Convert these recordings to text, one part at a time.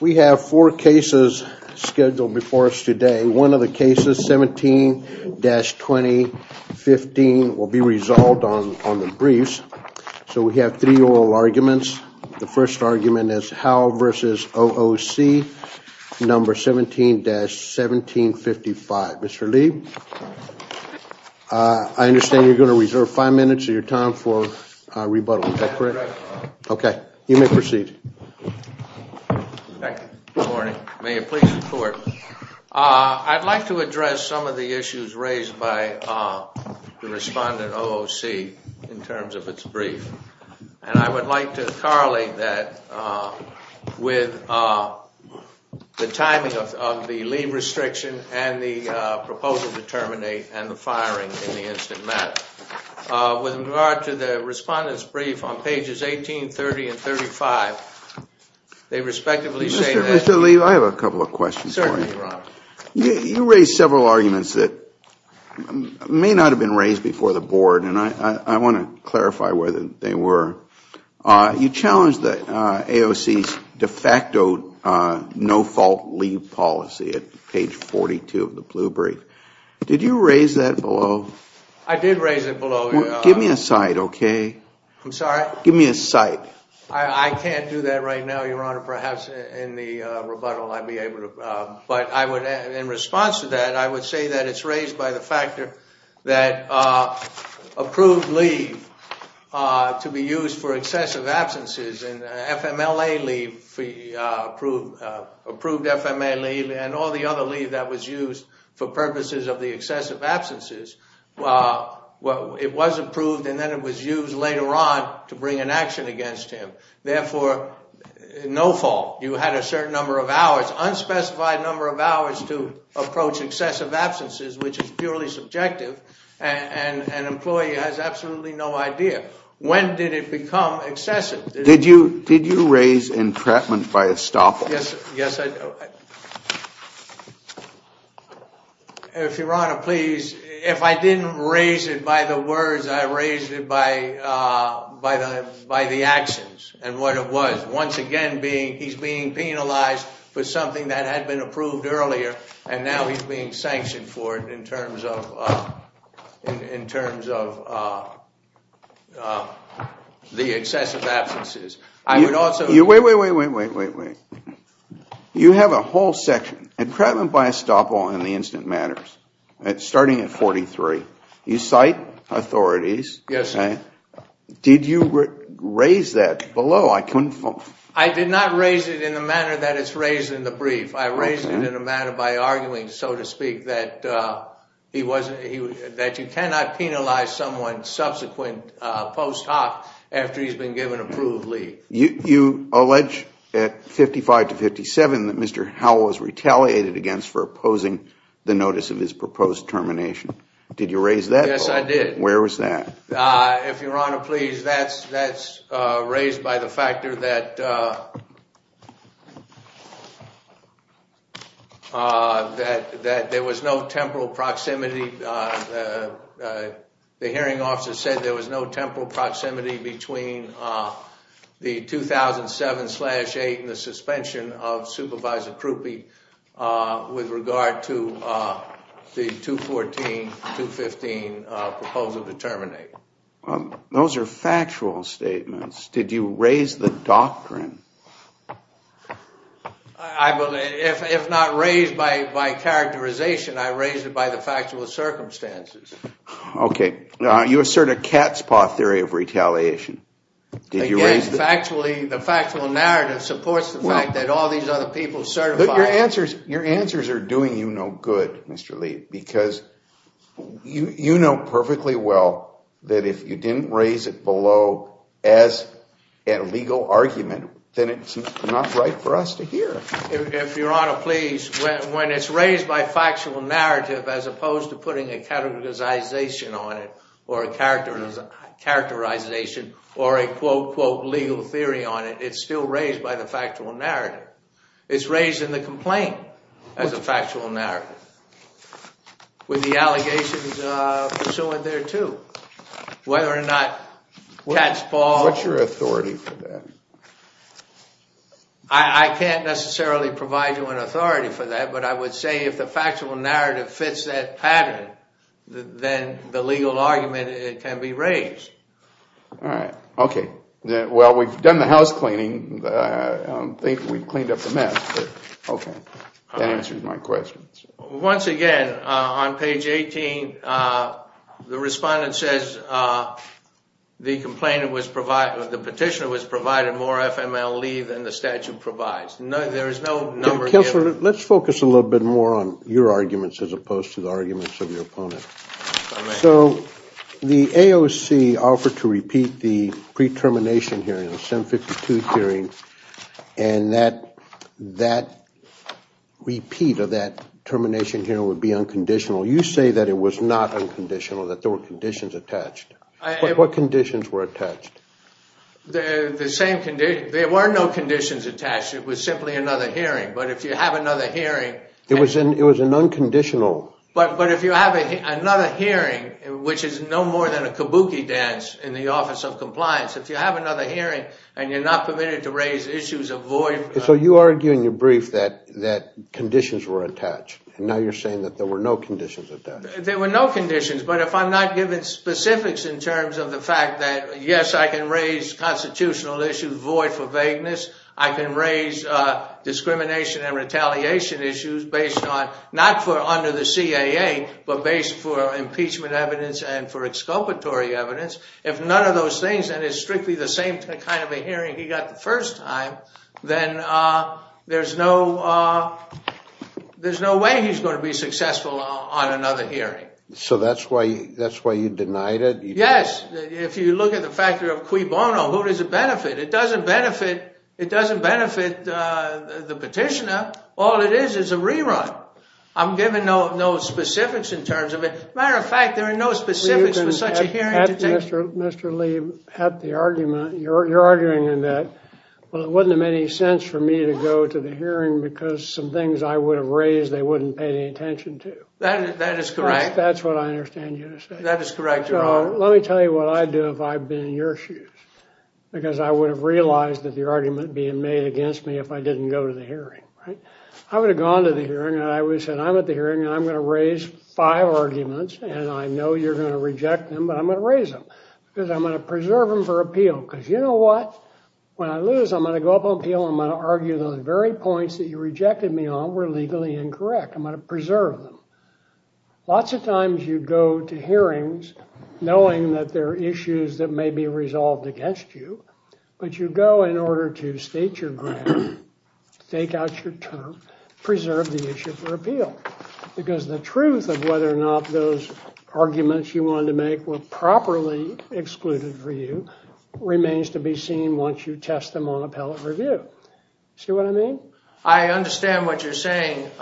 We have four cases scheduled before us today. One of the cases, 17-2015, will be resolved on the briefs. So we have three oral arguments. The first argument is Howell v. OOC, number 17-1755. Mr. Leib, I understand you're going to reserve five minutes of your time for rebuttal, is that correct? Okay. You may proceed. Thank you. Good morning. May it please the Court. I'd like to address some of the issues raised by the respondent, OOC, in terms of its brief. I would like to correlate that with the timing of the leave restriction and the proposal to terminate and the firing in the instant matter. With regard to the respondent's brief on pages 18, 30, and 35, they respectively say that Mr. Leib, I have a couple of questions for you. You raised several arguments that may not have been raised before the Board, and I want to clarify whether they were. You challenged AOC's de facto no-fault leave policy at page 42 of the blue brief. Did you raise that below? I did raise it below. Give me a cite, okay? I'm sorry? Give me a cite. I can't do that right now, Your Honor. Perhaps in the rebuttal I'd be able to, but in response to that, I would say that it's to be used for excessive absences, and FMLA leave, approved FMLA leave, and all the other leave that was used for purposes of the excessive absences, it was approved and then it was used later on to bring an action against him. Therefore, no fault. You had a certain number of hours, unspecified number of hours, to approach excessive absences, which is purely subjective, and an employee has absolutely no idea. When did it become excessive? Did you raise entrapment by estoppel? Yes, Your Honor, please. If I didn't raise it by the words, I raised it by the actions and what it was. Once again, he's being penalized for something that had been approved earlier, and now he's being sanctioned for it in terms of the excessive absences. I would also- Wait, wait, wait, wait, wait, wait. You have a whole section, entrapment by estoppel in the incident matters, starting at 43. You cite authorities. Did you raise that below? I did not raise it in the manner that it's raised in the brief. I raised it in a manner by arguing, so to speak, that you cannot penalize someone subsequent post hoc after he's been given approved leave. You allege at 55 to 57 that Mr. Howell was retaliated against for opposing the notice of his proposed termination. Did you raise that? Yes, I did. Where was that? If Your Honor, please, that's raised by the factor that there was no temporal proximity. The hearing officer said there was no temporal proximity between the 2007-8 and the suspension of Supervisor Krupe with regard to the 2014-2015 proposal to terminate. Those are factual statements. Did you raise the doctrine? I believe, if not raised by characterization, I raised it by the factual circumstances. You assert a cat's paw theory of retaliation. Again, the factual narrative supports the fact that all these other people certified. Your answers are doing you no good, Mr. Lee, because you know perfectly well that if you didn't raise it below as a legal argument, then it's not right for us to hear. If Your Honor, please, when it's raised by factual narrative as opposed to putting a categorization on it or a characterization or a, quote, quote, legal theory on it, it's still raised by the factual narrative. It's raised in the complaint as a factual narrative with the allegations pursuant thereto, whether or not cat's paw. What's your authority for that? I can't necessarily provide you an authority for that, but I would say if the factual narrative fits that pattern, then the legal argument can be raised. All right. Okay. Well, we've done the house cleaning. I don't think we've cleaned up the mess, but okay. That answers my question. Once again, on page 18, the respondent says the petitioner was provided more FML leave than the statute provides. There is no number given. Let's focus a little bit more on your arguments as opposed to the arguments of your opponent. The AOC offered to repeat the pre-termination hearing, the 752 hearing, and that repeat of that termination hearing would be unconditional. You say that it was not unconditional, that there were conditions attached. What conditions were attached? The same conditions. There were no conditions attached. It was simply another hearing. But if you have another hearing... It was an unconditional... But if you have another hearing, which is no more than a kabuki dance in the Office of Compliance, if you have another hearing and you're not permitted to raise issues of void... So you argue in your brief that conditions were attached, and now you're saying that there were no conditions attached. There were no conditions, but if I'm not given specifics in terms of the fact that, yes, I can raise constitutional issues, void for vagueness, I can raise discrimination and retaliation issues based on... Not for under the CAA, but based for impeachment evidence and for exculpatory evidence. If none of those things, and it's strictly the same kind of a hearing he got the first time, then there's no way he's going to be successful on another hearing. So that's why you denied it? Yes. If you look at the factor of quibono, who does it benefit? It doesn't benefit the petitioner. All it is is a rerun. I'm given no specifics in terms of it. Matter of fact, there are no specifics for such a hearing to take... Mr. Lee, at the argument, you're arguing that, well, it wouldn't have made any sense for me to go to the hearing because some things I would have raised, they wouldn't pay any attention to. That is correct. That's what I understand you to say. That is correct, Your Honor. Now, let me tell you what I'd do if I'd been in your shoes, because I would have realized that the argument being made against me if I didn't go to the hearing, right? I would have gone to the hearing, and I would have said, I'm at the hearing, and I'm going to raise five arguments, and I know you're going to reject them, but I'm going to raise them because I'm going to preserve them for appeal, because you know what? When I lose, I'm going to go up on appeal, and I'm going to argue those very points that you rejected me on were legally incorrect. I'm going to preserve them. Lots of times you go to hearings knowing that there are issues that may be resolved against you, but you go in order to state your grand, stake out your term, preserve the issue for appeal, because the truth of whether or not those arguments you wanted to make were properly excluded for you remains to be seen once you test them on appellate review. See what I mean? I understand what you're saying, Your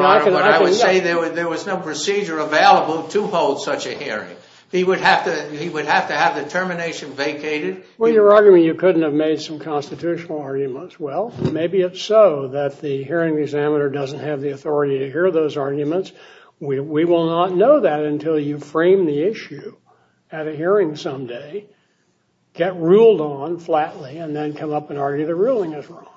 Honor. I would say there was no procedure available to hold such a hearing. He would have to have the termination vacated. Well, you're arguing you couldn't have made some constitutional arguments. Well, maybe it's so that the hearing examiner doesn't have the authority to hear those arguments. We will not know that until you frame the issue at a hearing someday, get ruled on flatly, and then come up and argue the ruling is wrong,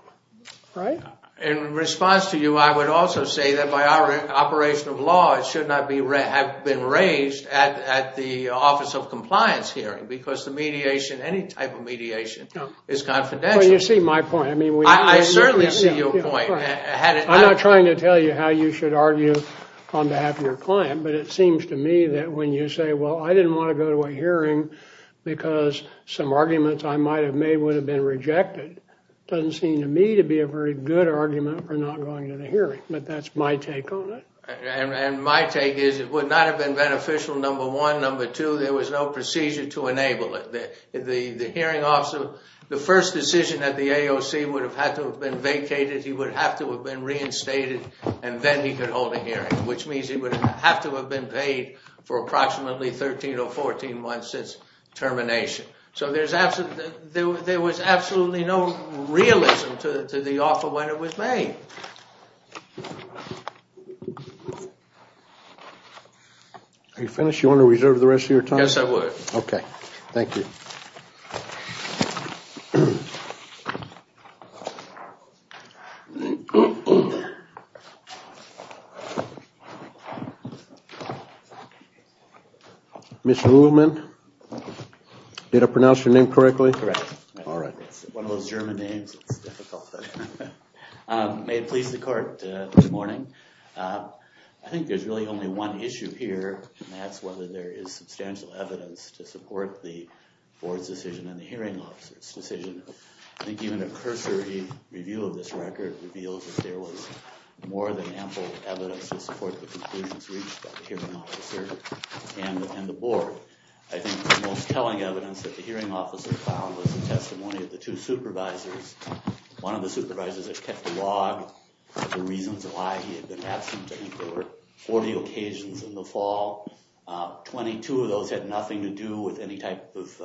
right? In response to you, I would also say that by our operation of law, it should not have been raised at the Office of Compliance hearing, because the mediation, any type of mediation is confidential. Well, you see my point. I mean, we... I certainly see your point. I'm not trying to tell you how you should argue on behalf of your client, but it seems to me that when you say, well, I didn't want to go to a hearing because some arguments I might have made would have been rejected, it doesn't seem to me to be a very good argument for not going to the hearing, but that's my take on it. And my take is it would not have been beneficial, number one. Number two, there was no procedure to enable it. The hearing officer, the first decision at the AOC would have had to have been vacated. He would have to have been reinstated, and then he could hold a hearing, which means he would have to have been paid for approximately 13 or 14 months since termination. So there was absolutely no realism to the offer when it was made. Are you finished? Do you want to reserve the rest of your time? Yes, I would. Okay. Thank you. Mr. Woolman, did I pronounce your name correctly? Correct. Alright. One of those German names, it's difficult. May it please the court this morning, I think there's really only one issue here, and that's whether there is substantial evidence to support the board's decision and the hearing officer's decision. I think even a cursory review of this record reveals that there was more than ample evidence to support the conclusions reached by the hearing officer and the board. I think the most telling evidence that the hearing officer found was the testimony of the two supervisors. One of the supervisors had kept a log of the reasons why he had been absent. I think there were 40 occasions in the fall. 22 of those had nothing to do with any type of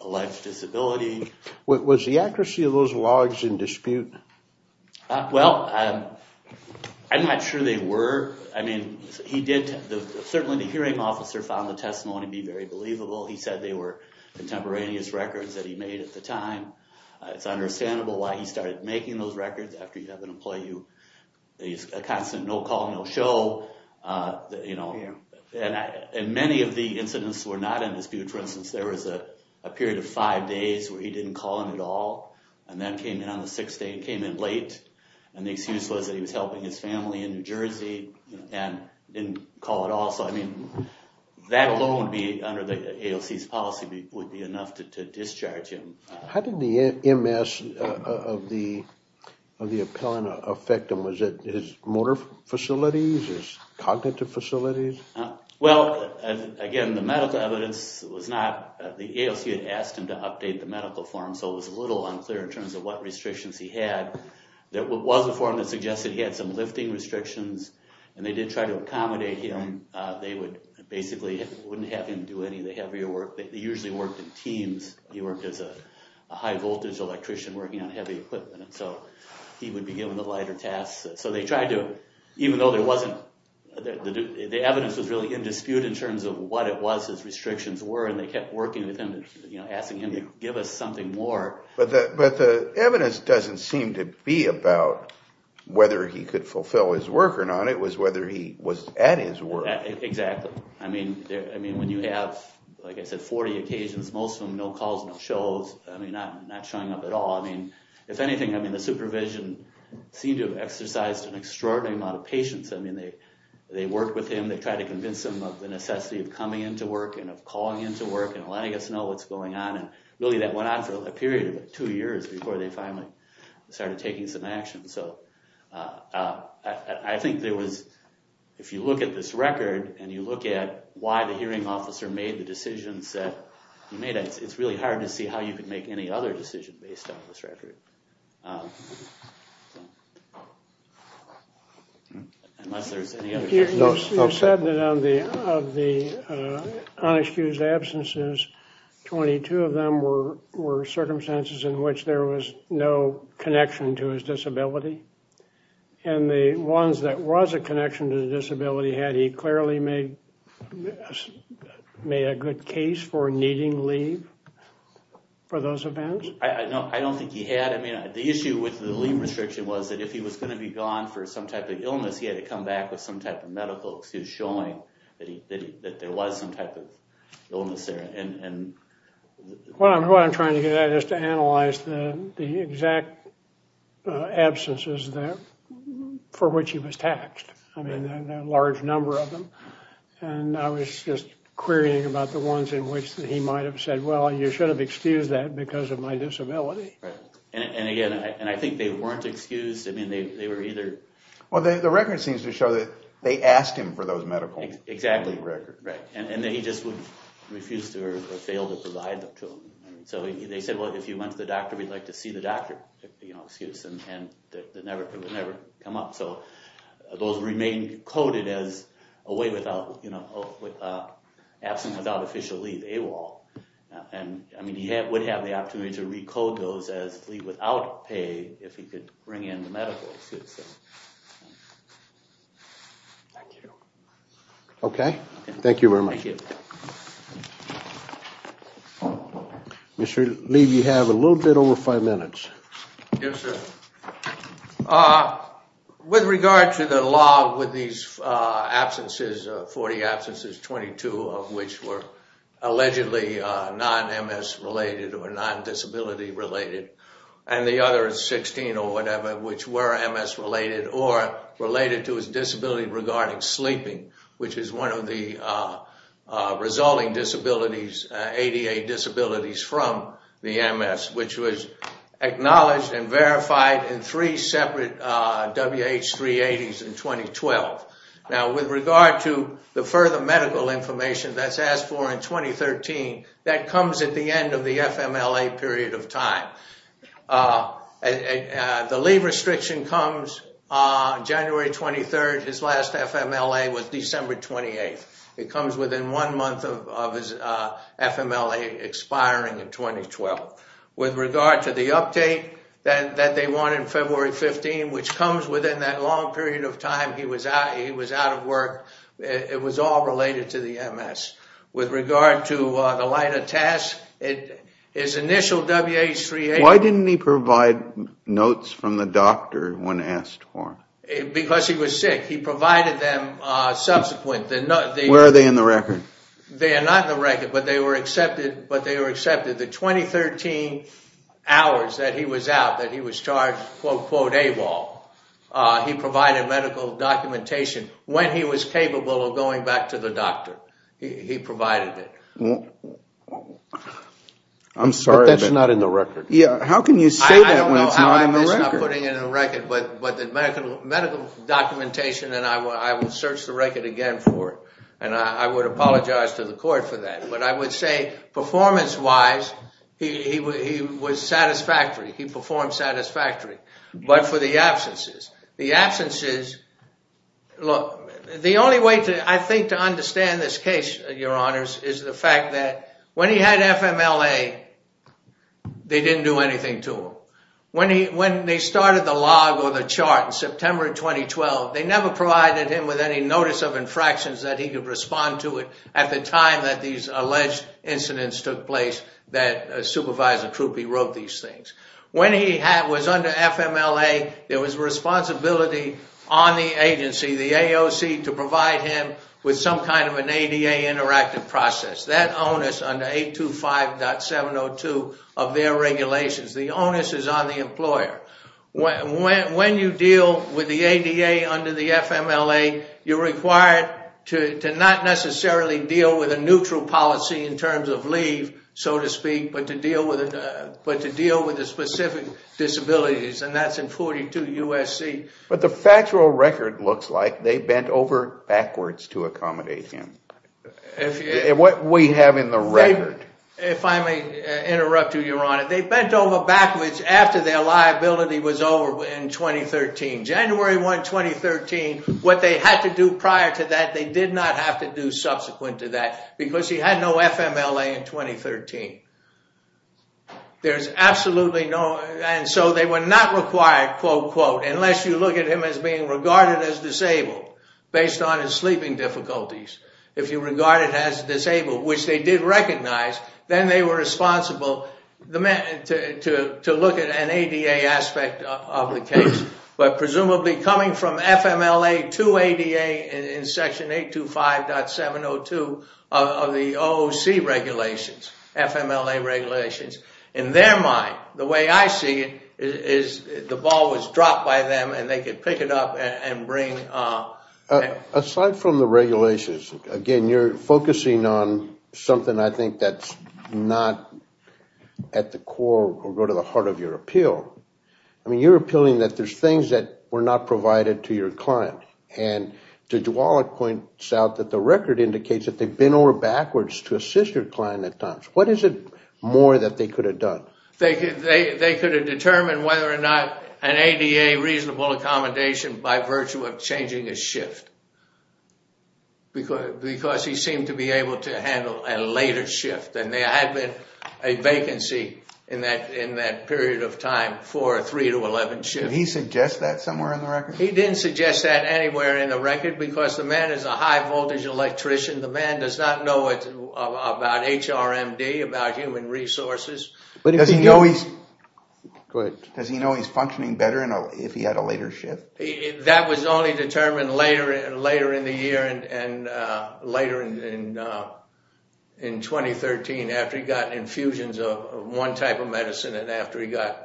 alleged disability. Was the accuracy of those logs in dispute? Well, I'm not sure they were. I mean, certainly the hearing officer found the testimony to be very believable. He said they were contemporaneous records that he made at the time. It's understandable why he started making those records after you have an employee who is a constant no call, no show. And many of the incidents were not in dispute. For instance, there was a period of five days where he didn't call in at all, and then came in on the sixth day and came in late. And the excuse was that he was helping his family in New Jersey and didn't call at all. So I mean, that alone, under the AOC's policy, would be enough to discharge him. How did the MS of the appellant affect him? Was it his motor facilities, his cognitive facilities? Well, again, the medical evidence was not, the AOC had asked him to update the medical form, so it was a little unclear in terms of what restrictions he had. There was a form that suggested he had some lifting restrictions, and they did try to accommodate him. They would basically, wouldn't have him do any of the heavier work. They usually worked in teams. He worked as a high voltage electrician working on heavy equipment. So he would be given the lighter tasks. So they tried to, even though there wasn't, the evidence was really in dispute in terms of what it was his restrictions were. And they kept working with him, asking him to give us something more. But the evidence doesn't seem to be about whether he could fulfill his work or not. It was whether he was at his work. Exactly. I mean, when you have, like I said, 40 occasions, most of them no calls, no shows. I mean, not showing up at all. I mean, if anything, the supervision seemed to have exercised an extraordinary amount of patience. I mean, they worked with him. They tried to convince him of the necessity of coming into work and of calling into work and letting us know what's going on. And really that went on for a period of two years before they finally started taking some action. So I think there was, if you look at this record, and you look at why the hearing officer made the decisions that he made, it's really hard to see how you could make any other decision based on this record. You said that of the unexcused absences, 22 of them were circumstances in which there was no connection to his disability. And the ones that was a connection to the disability, had he clearly made a good case for needing leave for those events? I don't think he had. I mean, the issue with the leave restriction was that if he was going to be gone for some type of illness, he had to come back with some type of medical excuse showing that there was some type of illness there. What I'm trying to get at is to analyze the exact absences for which he was taxed. I mean, a large number of them. And I was just querying about the ones in which he might have said, well, you should have excused that because of my disability. And again, I think they weren't excused. I mean, they were either... Well, the record seems to show that they asked him for those medical... Exactly. Medical leave record. Right. And that he just would refuse to or fail to provide them to them. So they said, well, if you went to the doctor, we'd like to see the doctor. You know, excuse them. And it would never come up. So those remain coded as absent without official leave, AWOL. And I mean, he would have the opportunity to recode those as leave without pay if he could bring in the medical excuse. Thank you. Okay. Thank you very much. Thank you. Mr. Lee, you have a little bit over five minutes. Yes, sir. With regard to the law with these absences, 40 absences, 22 of which were allegedly non-MS related or non-disability related, and the other 16 or whatever, which were MS related or related to his disability regarding sleeping, which is one of the resulting disabilities, ADA disabilities from the MS, which was acknowledged and verified in three separate WH-380s in 2012. Now, with regard to the further medical information that's asked for in 2013, that comes at the end of the FMLA period of time. The leave restriction comes on January 23rd. His last FMLA was December 28th. It comes within one month of his FMLA expiring in 2012. With regard to the update that they want in February 15, which comes within that long period of time, he was out of work. It was all related to the MS. With regard to the lighter tests, his initial WH-380... Why didn't he provide notes from the doctor when asked for them? Because he was sick. He provided them subsequent. Where are they in the record? They are not in the record, but they were accepted. The 2013 hours that he was out, that he was charged, quote, quote, AWOL, he provided medical documentation when he was capable of going back to the doctor. He provided it. I'm sorry. But that's not in the record. How can you say that when it's not in the record? I know how I'm putting it in the record, but the medical documentation, and I will search the record again for it, and I would apologize to the court for that. But I would say performance-wise, he was satisfactory. He performed satisfactory. But for the absences, the absences... The only way, I think, to understand this case, Your Honors, is the fact that when he had FMLA, they didn't do anything to him. When they started the log or the chart in September 2012, they never provided him with any notice of infractions that he could respond to it at the time that these alleged incidents took place that Supervisor Krupe wrote these things. When he was under FMLA, there was responsibility on the agency. The AOC to provide him with some kind of an ADA interactive process. That onus under 825.702 of their regulations. The onus is on the employer. When you deal with the ADA under the FMLA, you're required to not necessarily deal with a neutral policy in terms of leave, so to speak, but to deal with the specific disabilities. And that's in 42 U.S.C. But the factual record looks like they bent over backwards to accommodate him. What we have in the record... If I may interrupt you, Your Honor. They bent over backwards after their liability was over in 2013. January 1, 2013, what they had to do prior to that, they did not have to do subsequent to that because he had no FMLA in 2013. There's absolutely no... And so they were not required, quote, quote, unless you look at him as being regarded as disabled based on his sleeping difficulties. If you regard it as disabled, which they did recognize, then they were responsible to look at an ADA aspect of the case. But presumably coming from FMLA to ADA in Section 825.702 of the OOC regulations, FMLA regulations, in their mind, the way I see it, is the ball was dropped by them and they could pick it up and bring... Aside from the regulations, again, you're focusing on something I think that's not at the core or go to the heart of your appeal. I mean, you're appealing that there's things that were not provided to your client. And Judge Wallach points out that the record indicates that they bent over backwards to assist your client at times. What is it more that they could have done? They could have determined whether or not an ADA reasonable accommodation by virtue of changing his shift because he seemed to be able to handle a later shift. And there had been a vacancy in that period of time for a 3 to 11 shift. Did he suggest that somewhere in the record? He didn't suggest that anywhere in the record because the man is a high voltage electrician. The man does not know about HRMD, about human resources. Does he know he's functioning better if he had a later shift? That was only determined later in the year and later in 2013 after he got infusions of one type of medicine and after he got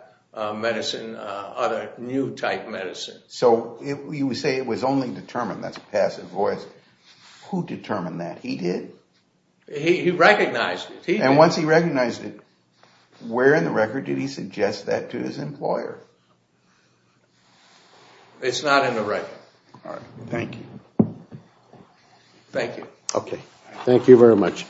medicine, other new type medicine. So you say it was only determined. That's a passive voice. Who determined that? He did. He recognized it. And once he recognized it, where in the record did he suggest that to his employer? It's not in the record. All right. Thank you. Thank you. Okay. Thank you very much.